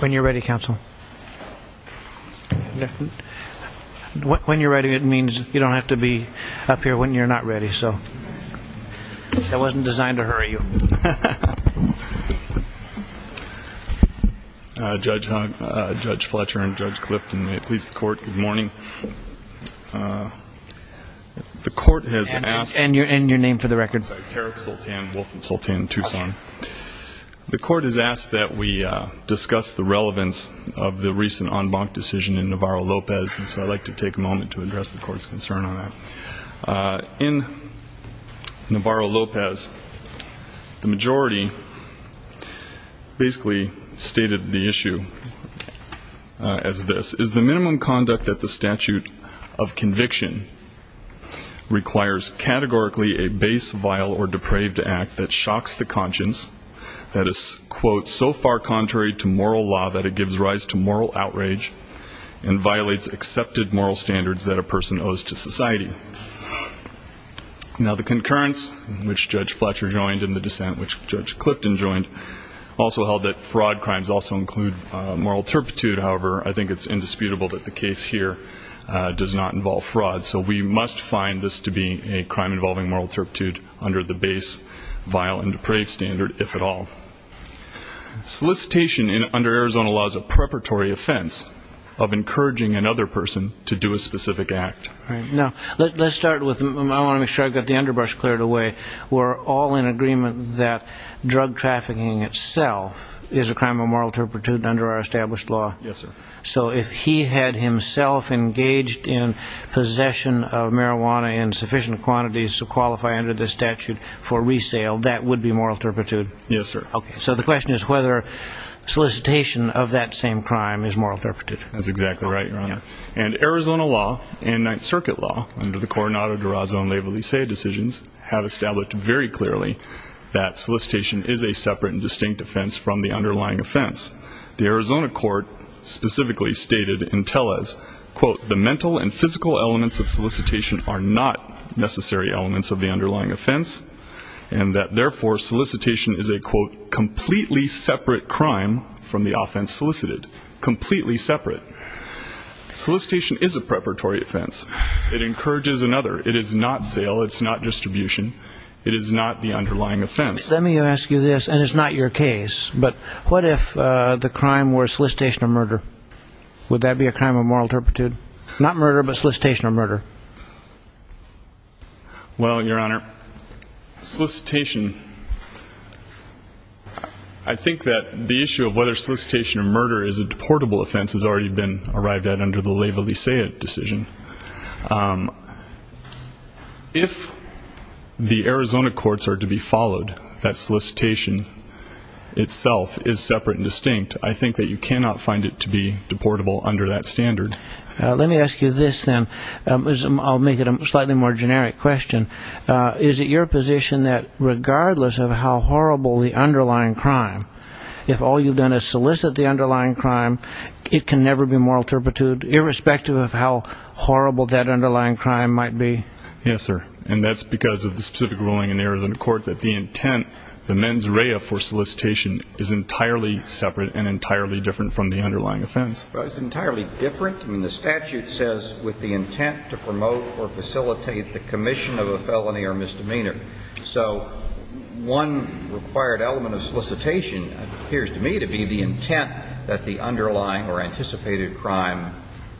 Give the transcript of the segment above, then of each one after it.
When you're ready, Counsel. When you're ready, it means you don't have to be up here when Judge Fletcher and Judge Clifton, may it please the court, good morning. The court has asked that we discuss the relevance of the recent en banc decision in Navarro-Lopez, and so I'd like to take a moment to address the court's concern on that. In Navarro-Lopez, the majority basically stated the issue as this, is the minimum conduct that the statute of conviction requires categorically a base, vile, or depraved act that shocks the conscience, that is, quote, so far contrary to moral law that it gives rise to moral outrage and violates accepted moral standards that a person owes to society. Now, the concurrence, which Judge Fletcher joined, and the dissent, which Judge Clifton joined, also held that fraud crimes also include moral turpitude. However, I think it's indisputable that the case here does not involve fraud, so we must find this to be a crime involving moral turpitude under the base, vile, and depraved standard, if at all. Solicitation under Arizona law is a preparatory offense of encouraging another person to do a specific act. Let's start with, I want to make sure I've got the underbrush cleared away, we're all in agreement that drug trafficking itself is a crime of moral turpitude under our established law? Yes, sir. So if he had himself engaged in possession of marijuana in sufficient quantities to qualify under this statute for resale, that would be moral turpitude? Yes, sir. Okay, so the question is whether solicitation of that same crime is moral turpitude. That's exactly right, Your Honor. And Arizona law, and Ninth Circuit law, under the Coronado-Durazo-Leyva-Licea decisions, have established very clearly that solicitation is a separate and distinct offense from the underlying offense. The Arizona court specifically stated in Tellez, quote, the mental and physical elements of solicitation are not necessary elements of the underlying offense, and that therefore solicitation is a, quote, completely separate crime from the offense solicited. Completely separate. Solicitation is a preparatory offense. It encourages another. It is not sale. It's not distribution. It is not the underlying offense. Let me ask you this, and it's not your case, but what if the crime were solicitation of murder? Would that be a crime of moral turpitude? Not murder, but solicitation of murder. Well, Your Honor, solicitation, I think that the issue of whether solicitation of murder is a deportable offense has already been arrived at under the Leyva-Licea decision. If the Arizona courts are to be followed, that solicitation itself is separate and distinct. I think that you cannot find it to be deportable under that standard. Let me ask you this, then. I'll make it a slightly more generic question. Is it your position that regardless of how horrible the underlying crime, if all you've done is solicit the underlying crime, it can never be moral turpitude, irrespective of how horrible that underlying crime might be? Yes, sir, and that's because of the specific ruling in the Arizona court that the intent, the mens rea for solicitation, is entirely separate and entirely different from the underlying offense. Well, it's entirely different. I mean, the statute says with the intent to promote or facilitate the commission of a felony or misdemeanor. So one required element of solicitation appears to me to be the intent that the underlying or anticipated crime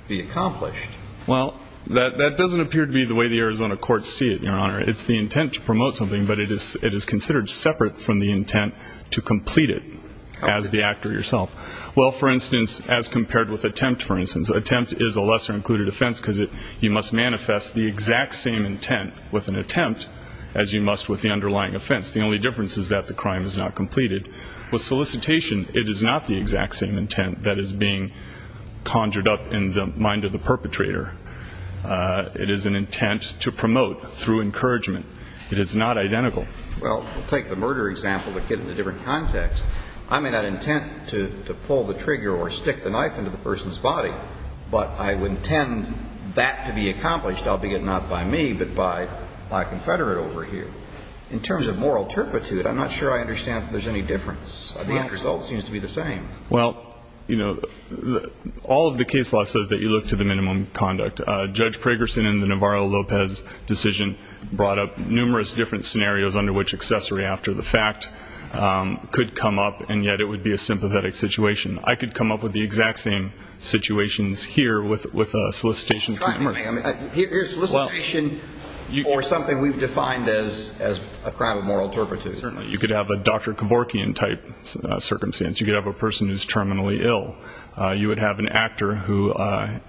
be accomplished. Well, that doesn't appear to be the way the Arizona courts see it, Your Honor. It's the intent to promote something, but it is considered separate from the intent to complete it as the actor yourself. Well, for instance, as compared with attempt, for instance, attempt is a lesser included offense because you must manifest the exact same intent with an attempt as you must with the underlying offense. The only difference is that the crime is not completed. With solicitation, it is not the exact same intent that is being conjured up in the mind of the perpetrator. It is an intent to promote through encouragement. It is not identical. Well, we'll take the murder example but get into a different context. I may not intent to pull the trigger or stick the knife into the person's body, but I would intend that to be accomplished, albeit not by me, but by a confederate over here. In terms of moral turpitude, I'm not sure I understand if there's any difference. The end result seems to be the same. Well, you know, all of the case law says that you look to the minimum conduct. Judge Pragerson in the Navarro-Lopez decision brought up numerous different scenarios under which accessory after the fact could come up, and yet it would be a sympathetic situation. I could come up with the exact same situations here with a solicitation. Here's solicitation for something we've defined as a crime of moral turpitude. Certainly. You could have a Dr. Kevorkian type circumstance. You could have a person who's terminally ill. You would have an actor who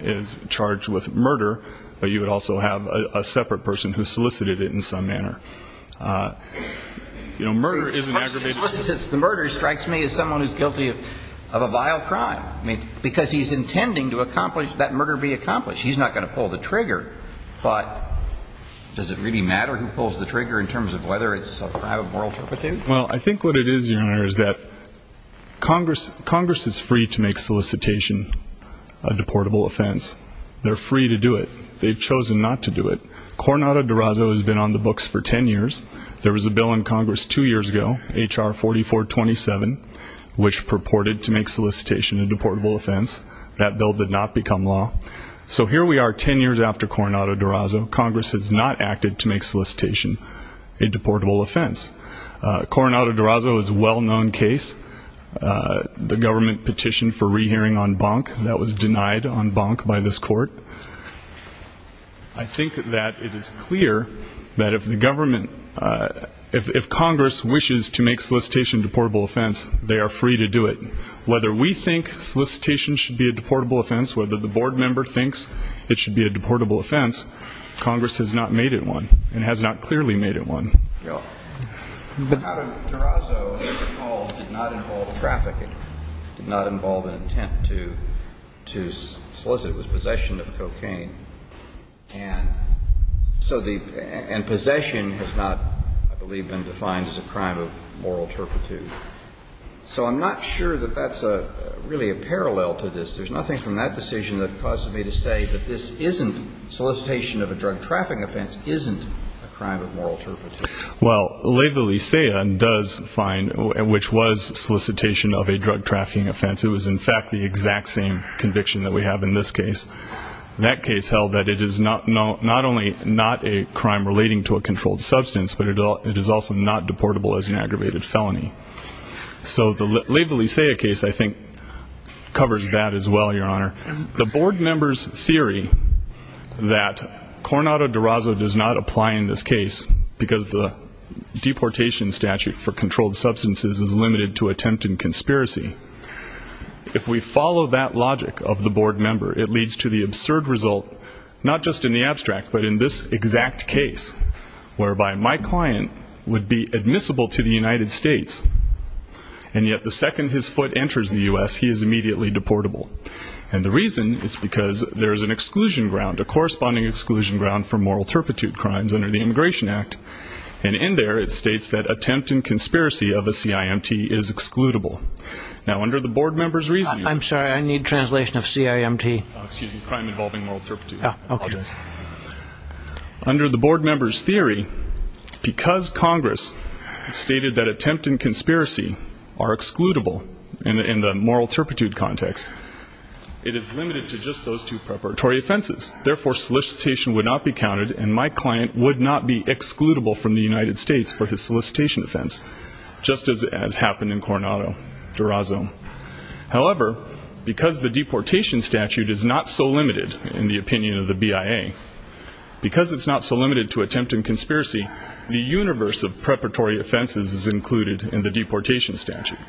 is charged with murder, but you would also have a separate person who solicited it in some manner. You know, murder is an aggravated crime. The murder strikes me as someone who's guilty of a vile crime because he's intending to accomplish that murder be accomplished. He's not going to pull the trigger, but does it really matter who pulls the trigger in terms of whether it's a crime of moral turpitude? Well, I think what it is, Your Honor, is that Congress is free to make solicitation a deportable offense. They're free to do it. They've chosen not to do it. Coronado-Durazo has been on the books for 10 years. There was a bill in Congress two years ago, H.R. 4427, which purported to make solicitation a deportable offense. That bill did not become law. So here we are 10 years after Coronado-Durazo. Congress has not acted to make solicitation a deportable offense. Coronado-Durazo is a well-known case. The government petitioned for rehearing on Bonk. That was denied on Bonk by this court. I think that it is clear that if Congress wishes to make solicitation a deportable offense, they are free to do it. Whether we think solicitation should be a deportable offense, whether the board member thinks it should be a deportable offense, Congress has not made it one and has not clearly made it one. But Coronado-Durazo, as you recall, did not involve trafficking, did not involve an intent to solicit. It was possession of cocaine. And so the – and possession has not, I believe, been defined as a crime of moral turpitude. So I'm not sure that that's really a parallel to this. There's nothing from that decision that causes me to say that this isn't – solicitation of a drug trafficking offense isn't a crime of moral turpitude. Well, Leyva-Licea does find – which was solicitation of a drug trafficking offense. It was, in fact, the exact same conviction that we have in this case. That case held that it is not only not a crime relating to a controlled substance, but it is also not deportable as an aggravated felony. So the Leyva-Licea case, I think, covers that as well, Your Honor. The board member's theory that Coronado-Durazo does not apply in this case because the deportation statute for controlled substances is limited to attempt and conspiracy, if we follow that logic of the board member, it leads to the absurd result, not just in the abstract, but in this exact case, whereby my client would be admissible to the United States, and yet the second his foot enters the U.S., he is immediately deportable. And the reason is because there is an exclusion ground, a corresponding exclusion ground for moral turpitude crimes under the Immigration Act, and in there it states that attempt and conspiracy of a CIMT is excludable. Now, under the board member's reasoning – I'm sorry, I need translation of CIMT. Oh, excuse me, crime involving moral turpitude. Yeah, okay. Under the board member's theory, because Congress stated that attempt and conspiracy are excludable in the moral turpitude context, it is limited to just those two preparatory offenses. Therefore, solicitation would not be counted, and my client would not be excludable from the United States for his solicitation offense, just as happened in Coronado-Durazo. However, because the deportation statute is not so limited, in the opinion of the BIA, because it's not so limited to attempt and conspiracy, the universe of preparatory offenses is included in the deportation statute.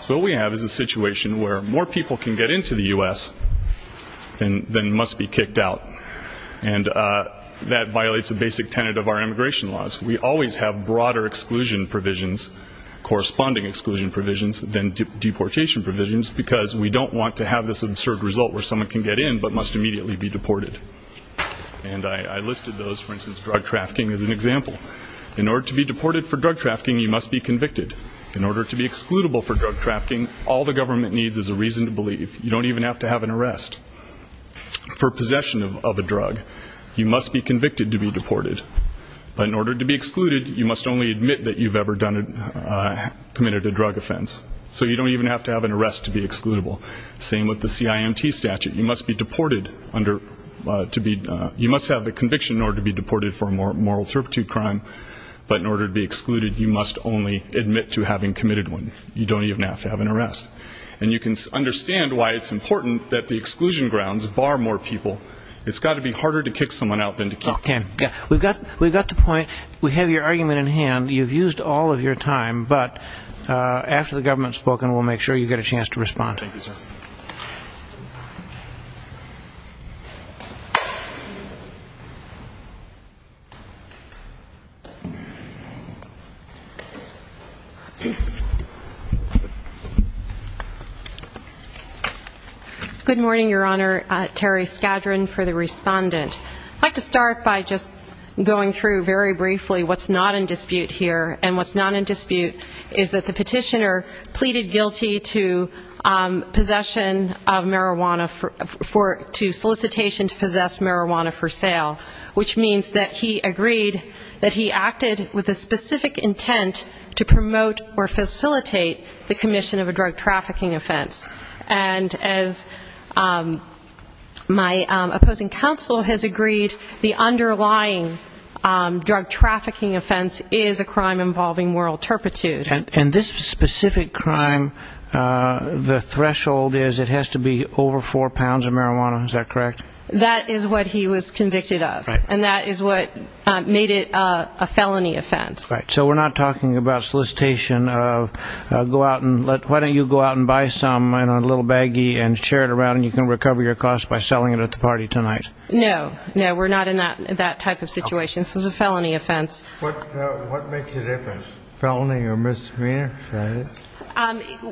So what we have is a situation where more people can get into the U.S. than must be kicked out, and that violates a basic tenet of our immigration laws. We always have broader exclusion provisions, corresponding exclusion provisions, than deportation provisions because we don't want to have this absurd result where someone can get in but must immediately be deported. And I listed those, for instance, drug trafficking, as an example. In order to be deported for drug trafficking, you must be convicted. In order to be excludable for drug trafficking, all the government needs is a reason to believe. You don't even have to have an arrest for possession of a drug. You must be convicted to be deported. But in order to be excluded, you must only admit that you've ever committed a drug offense. So you don't even have to have an arrest to be excludable. Same with the CIMT statute. You must have the conviction in order to be deported for a moral turpitude crime, but in order to be excluded, you must only admit to having committed one. You don't even have to have an arrest. And you can understand why it's important that the exclusion grounds bar more people. It's got to be harder to kick someone out than to keep them. Okay. We've got the point. We have your argument in hand. You've used all of your time. But after the government has spoken, we'll make sure you get a chance to respond. Thank you, sir. Good morning, Your Honor. Terry Skadron for the respondent. I'd like to start by just going through very briefly what's not in dispute here. And what's not in dispute is that the petitioner pleaded guilty to possession of marijuana for ‑‑ to solicitation to possess marijuana for sale, and acted with a specific intent to promote or facilitate the commission of a drug trafficking offense. And as my opposing counsel has agreed, the underlying drug trafficking offense is a crime involving moral turpitude. And this specific crime, the threshold is it has to be over four pounds of marijuana. Is that correct? That is what he was convicted of. And that is what made it a felony offense. Right. So we're not talking about solicitation of go out and let ‑‑ why don't you go out and buy some in a little baggie and share it around, and you can recover your cost by selling it at the party tonight. No. No, we're not in that type of situation. This was a felony offense. What makes the difference, felony or misdemeanor?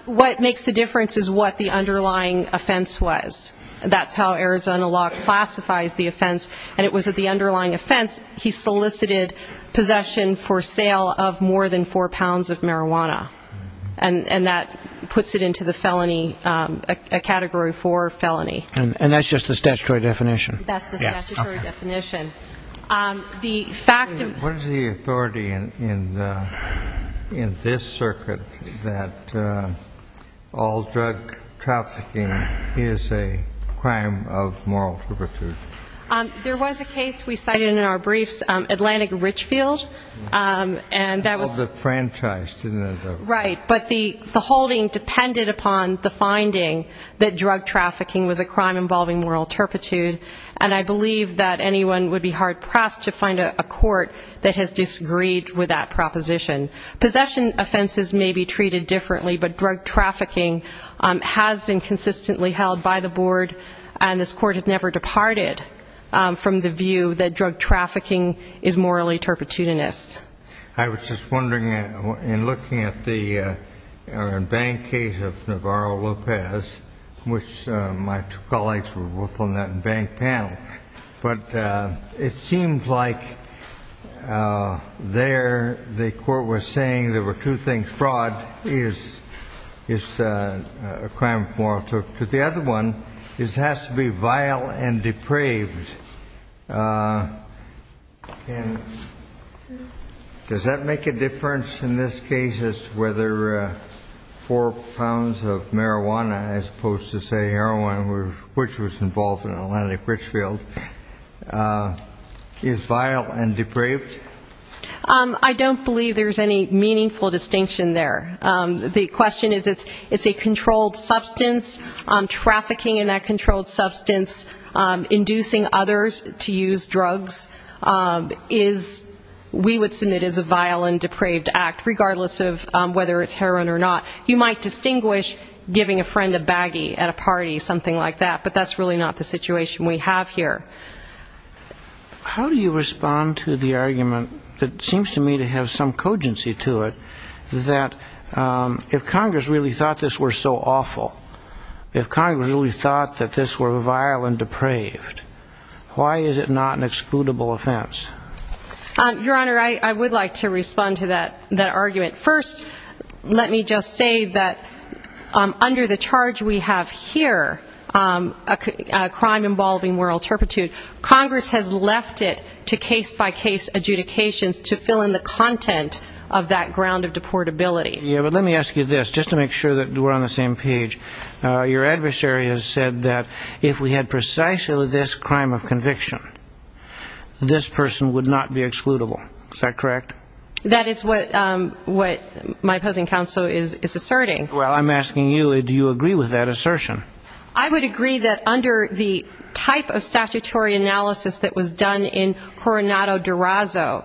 What makes the difference is what the underlying offense was. That's how Arizona law classifies the offense. And it was that the underlying offense, he solicited possession for sale of more than four pounds of marijuana. And that puts it into the felony, a Category 4 felony. And that's just the statutory definition? That's the statutory definition. What is the authority in this circuit that all drug trafficking is a crime of moral turpitude? There was a case we cited in our briefs, Atlantic Richfield. That was a franchise, didn't it? Right, but the holding depended upon the finding that drug trafficking was a crime involving moral turpitude. And I believe that anyone would be hard pressed to find a court that has disagreed with that proposition. Possession offenses may be treated differently, but drug trafficking has been consistently held by the board, and this court has never departed from the view that drug trafficking is morally turpitudinous. I was just wondering, in looking at the bank case of Navarro-Lopez, which my two colleagues were both on that bank panel, but it seemed like there the court was saying there were two things. Fraud is a crime of moral turpitude. But the other one is it has to be vile and depraved. And does that make a difference in this case as to whether four pounds of marijuana, as opposed to, say, heroin, which was involved in Atlantic Richfield, is vile and depraved? I don't believe there's any meaningful distinction there. The question is it's a controlled substance. Trafficking in that controlled substance, inducing others to use drugs, we would submit is a vile and depraved act, regardless of whether it's heroin or not. You might distinguish giving a friend a baggie at a party, something like that, but that's really not the situation we have here. How do you respond to the argument that seems to me to have some cogency to it that if Congress really thought this were so awful, if Congress really thought that this were vile and depraved, why is it not an excludable offense? Your Honor, I would like to respond to that argument. First, let me just say that under the charge we have here, a crime involving moral turpitude, Congress has left it to case-by-case adjudications to fill in the content of that ground of deportability. Yeah, but let me ask you this, just to make sure that we're on the same page. Your adversary has said that if we had precisely this crime of conviction, this person would not be excludable. Is that correct? That is what my opposing counsel is asserting. Well, I'm asking you, do you agree with that assertion? I would agree that under the type of statutory analysis that was done in Coronado-Durazo,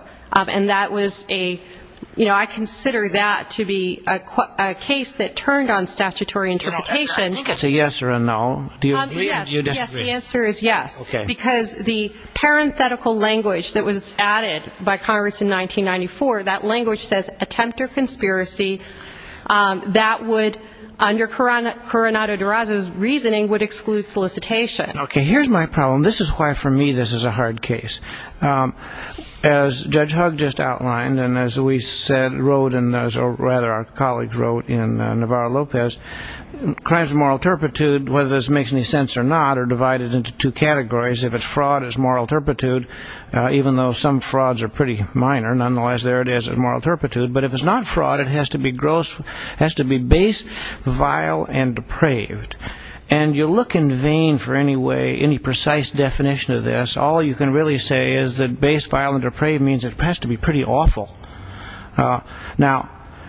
and I consider that to be a case that turned on statutory interpretation. I think that's a yes or a no. Do you agree or do you disagree? Yes, the answer is yes, because the parenthetical language that was added by Congress in 1994, that language says, attempt or conspiracy that would, under Coronado-Durazo's reasoning, would exclude solicitation. Okay, here's my problem. This is why, for me, this is a hard case. As Judge Hugg just outlined, and as we said, wrote, or rather our colleagues wrote in Navarro-Lopez, crimes of moral turpitude, whether this makes any sense or not, are divided into two categories. If it's fraud, it's moral turpitude, even though some frauds are pretty minor. Nonetheless, there it is, moral turpitude. But if it's not fraud, it has to be base, vile, and depraved. And you look in vain for any precise definition of this. All you can really say is that base, vile, and depraved means it has to be pretty awful. Now,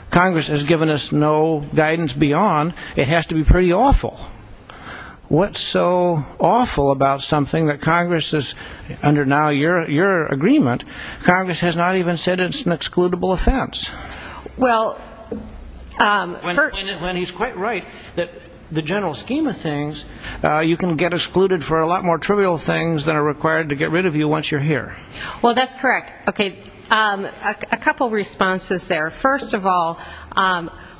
Congress has given us no guidance beyond it has to be pretty awful. What's so awful about something that Congress is, under now your agreement, Congress has not even said it's an excludable offense? When he's quite right that the general scheme of things, you can get excluded for a lot more trivial things than are required to get rid of you once you're here. Well, that's correct. A couple of responses there. First of all,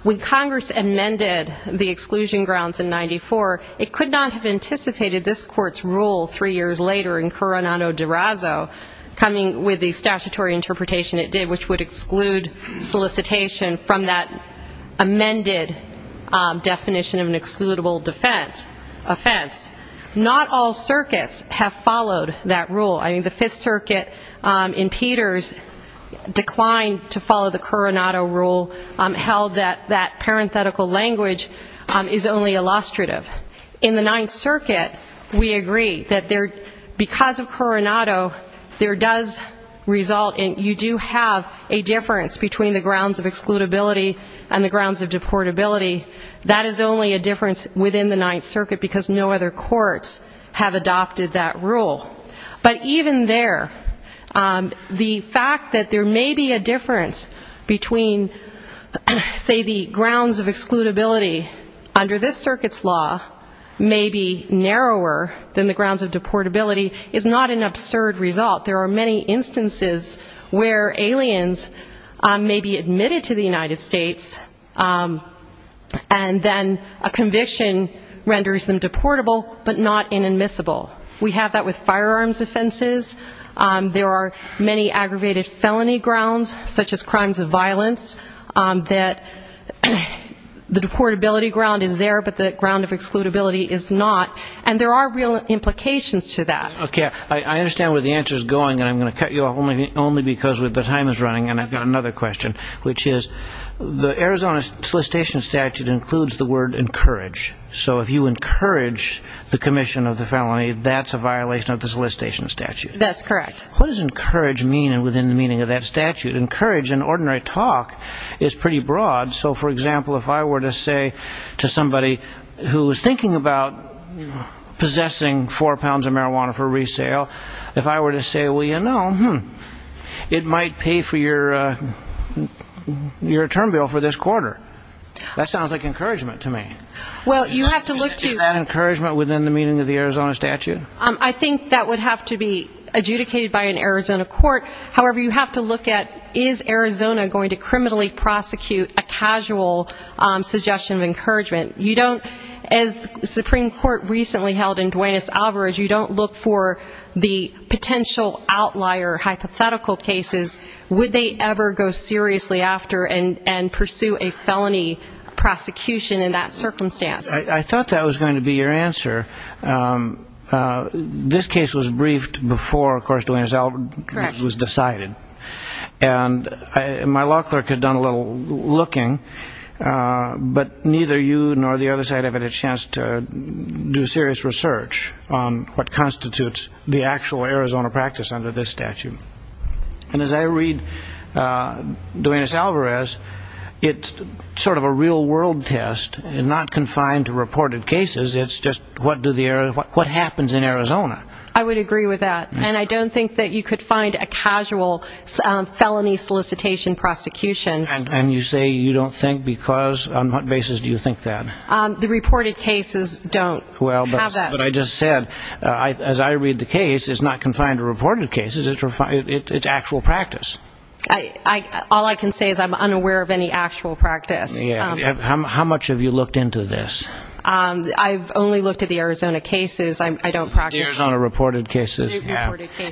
when Congress amended the exclusion grounds in 1994, it could not have anticipated this Court's rule three years later in Coronado-Durazo coming with the statutory interpretation it did, which would exclude solicitation from that amended definition of an excludable offense. Not all circuits have followed that rule. I mean, the Fifth Circuit in Peters declined to follow the Coronado rule, held that that parenthetical language is only illustrative. In the Ninth Circuit, we agree that because of Coronado, there does result in you do have a difference between the grounds of excludability and the grounds of deportability. That is only a difference within the Ninth Circuit because no other courts have adopted that rule. But even there, the fact that there may be a difference between, say, the grounds of excludability under this circuit's law may be narrower than the grounds of deportability is not an absurd result. There are many instances where aliens may be admitted to the United States and then a conviction renders them deportable but not inadmissible. We have that with firearms offenses. There are many aggravated felony grounds, such as crimes of violence, that the deportability ground is there but the ground of excludability is not, and there are real implications to that. Okay. I understand where the answer is going, and I'm going to cut you off only because the time is running, and I've got another question, which is the Arizona solicitation statute includes the word encourage. So if you encourage the commission of the felony, that's a violation of the solicitation statute. That's correct. What does encourage mean within the meaning of that statute? Encourage in ordinary talk is pretty broad. So, for example, if I were to say to somebody who is thinking about possessing four pounds of marijuana for resale, if I were to say, well, you know, it might pay for your term bill for this quarter, that sounds like encouragement to me. Is that encouragement within the meaning of the Arizona statute? I think that would have to be adjudicated by an Arizona court. However, you have to look at, is Arizona going to criminally prosecute a casual suggestion of encouragement? You don't, as the Supreme Court recently held in Duane S. Alvarez, you don't look for the potential outlier hypothetical cases. Would they ever go seriously after and pursue a felony prosecution in that circumstance? I thought that was going to be your answer. This case was briefed before, of course, when Duane S. Alvarez was decided. And my law clerk had done a little looking, but neither you nor the other side have had a chance to do serious research on what constitutes the actual Arizona practice under this statute. And as I read Duane S. Alvarez, it's sort of a real-world test and not confined to reported cases. It's just what happens in Arizona. I would agree with that. And I don't think that you could find a casual felony solicitation prosecution. And you say you don't think because? On what basis do you think that? The reported cases don't have that. But I just said, as I read the case, it's not confined to reported cases. It's actual practice. All I can say is I'm unaware of any actual practice. How much have you looked into this? I've only looked at the Arizona cases. The Arizona reported cases.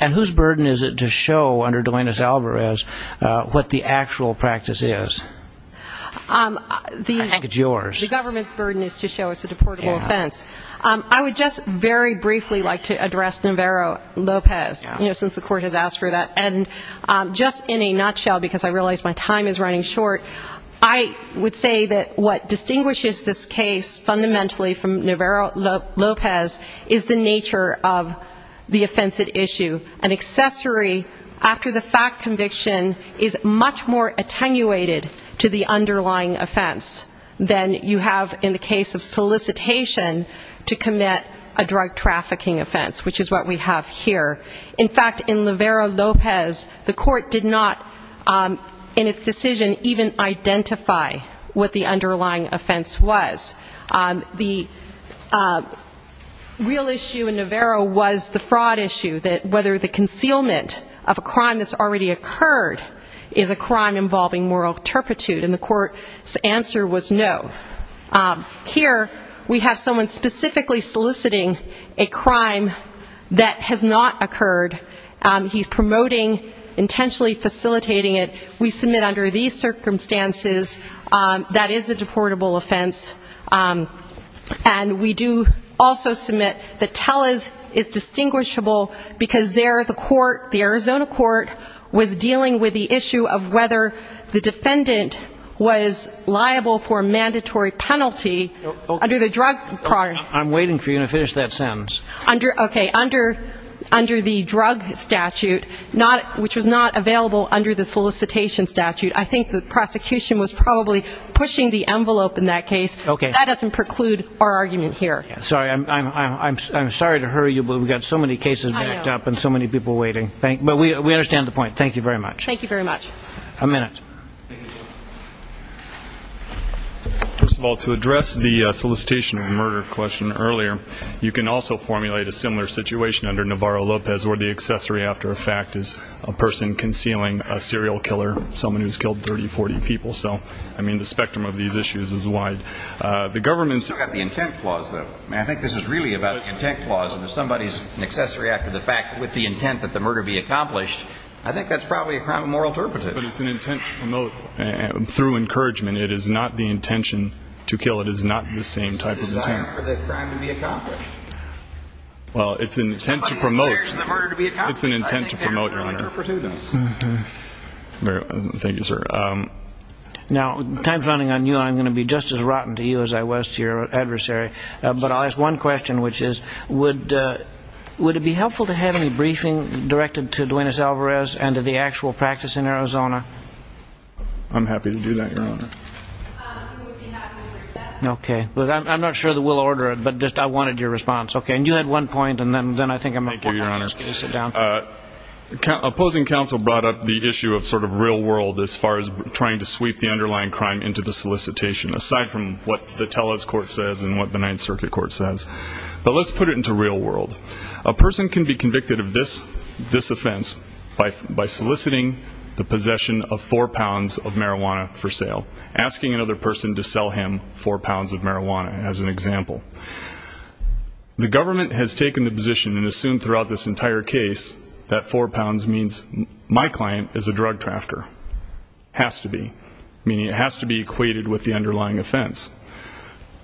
And whose burden is it to show under Duane S. Alvarez what the actual practice is? I think it's yours. The government's burden is to show it's a deportable offense. I would just very briefly like to address Navarro-Lopez, since the court has asked for that. And just in a nutshell, because I realize my time is running short, I would say that what distinguishes this case fundamentally from Navarro-Lopez is the nature of the offense at issue. An accessory after the fact conviction is much more attenuated to the underlying offense than you have in the case of solicitation to commit a drug trafficking offense, which is what we have here. In fact, in Navarro-Lopez, the court did not, in its decision, even identify what the underlying offense was. The real issue in Navarro was the fraud issue, that whether the concealment of a crime that's already occurred is a crime involving moral turpitude. And the court's answer was no. Here we have someone specifically soliciting a crime that has not occurred. He's promoting, intentionally facilitating it. We submit under these circumstances that is a deportable offense. And we do also submit that Tellez is distinguishable because there the court, the Arizona court, was dealing with the issue of whether the defendant was liable for a mandatory penalty under the drug. I'm waiting for you to finish that sentence. Okay. Under the drug statute, which was not available under the solicitation statute, I think the prosecution was probably pushing the envelope in that case. That doesn't preclude our argument here. Sorry. I'm sorry to hurry you, but we've got so many cases backed up and so many people waiting. But we understand the point. Thank you very much. Thank you very much. A minute. Thank you, sir. First of all, to address the solicitation of murder question earlier, you can also formulate a similar situation under Navarro-Lopez where the accessory after a fact is a person concealing a serial killer, someone who's killed 30, 40 people. So, I mean, the spectrum of these issues is wide. The government's got the intent clause, though. I think this is really about the intent clause. If somebody's an accessory after the fact with the intent that the murder be accomplished, I think that's probably a crime of moral turpitude. But it's an intent to promote through encouragement. It is not the intention to kill. It is not the same type of intent. It's a desire for the crime to be accomplished. Well, it's an intent to promote. It's an intent to promote, Your Honor. I think that's moral turpitude. Thank you, sir. Now, time's running on you. I'm going to be just as rotten to you as I was to your adversary. But I'll ask one question, which is, would it be helpful to have any briefing directed to Duenes Alvarez and to the actual practice in Arizona? I'm happy to do that, Your Honor. We would be happy to do that. Okay. I'm not sure that we'll order it, but just I wanted your response. Okay. And you had one point, and then I think I'm going to ask you to sit down. Thank you, Your Honor. Opposing counsel brought up the issue of sort of real world as far as trying to sweep the underlying crime into the solicitation, aside from what the Tellez court says and what the Ninth Circuit court says. But let's put it into real world. A person can be convicted of this offense by soliciting the possession of four pounds of marijuana for sale, asking another person to sell him four pounds of marijuana as an example. The government has taken the position and assumed throughout this entire case that four pounds means my client is a drug drafter, has to be, meaning it has to be equated with the underlying offense.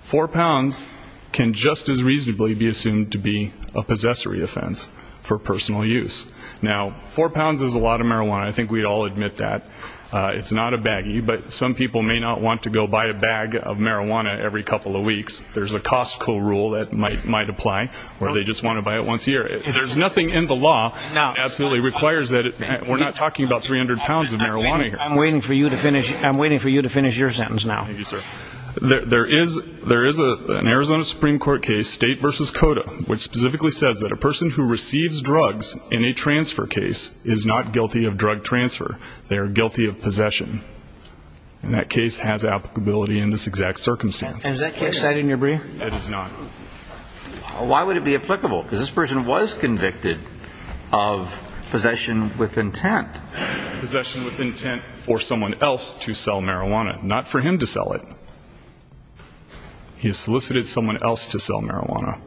Four pounds can just as reasonably be assumed to be a possessory offense for personal use. Now, four pounds is a lot of marijuana. I think we'd all admit that. It's not a baggie, but some people may not want to go buy a bag of marijuana every couple of weeks. There's a Costco rule that might apply where they just want to buy it once a year. There's nothing in the law that absolutely requires that. We're not talking about 300 pounds of marijuana here. I'm waiting for you to finish your sentence now. Thank you, sir. There is an Arizona Supreme Court case, State v. Cota, which specifically says that a person who receives drugs in a transfer case is not guilty of drug transfer. They are guilty of possession. And that case has applicability in this exact circumstance. And is that case cited in your brief? It is not. Why would it be applicable? Because this person was convicted of possession with intent. Possession with intent for someone else to sell marijuana, not for him to sell it. He has solicited someone else to sell marijuana.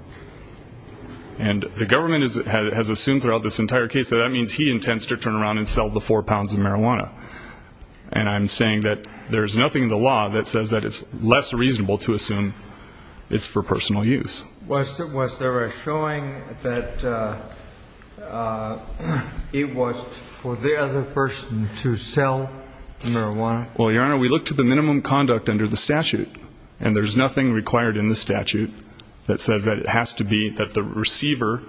And the government has assumed throughout this entire case that that means he intends to turn around and sell the four pounds of marijuana. And I'm saying that there's nothing in the law that says that it's less reasonable to assume it's for personal use. Was there a showing that it was for the other person to sell marijuana? Well, Your Honor, we looked at the minimum conduct under the statute. And there's nothing required in the statute that says that it has to be, that the receiver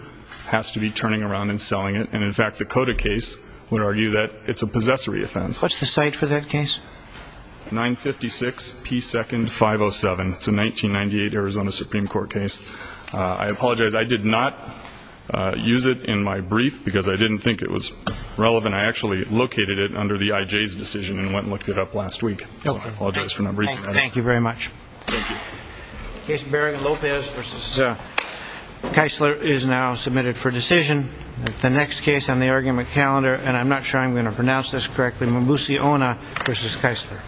has to be turning around and selling it. And, in fact, the Cota case would argue that it's a possessory offense. What's the cite for that case? 956P2-507. It's a 1998 Arizona Supreme Court case. I apologize. I did not use it in my brief because I didn't think it was relevant. I actually located it under the IJ's decision and went and looked it up last week. So I apologize for not briefing you. Thank you very much. Thank you. Case Baring-Lopez v. Keisler is now submitted for decision. The next case on the argument calendar, and I'm not sure I'm going to pronounce this correctly, v. Keisler.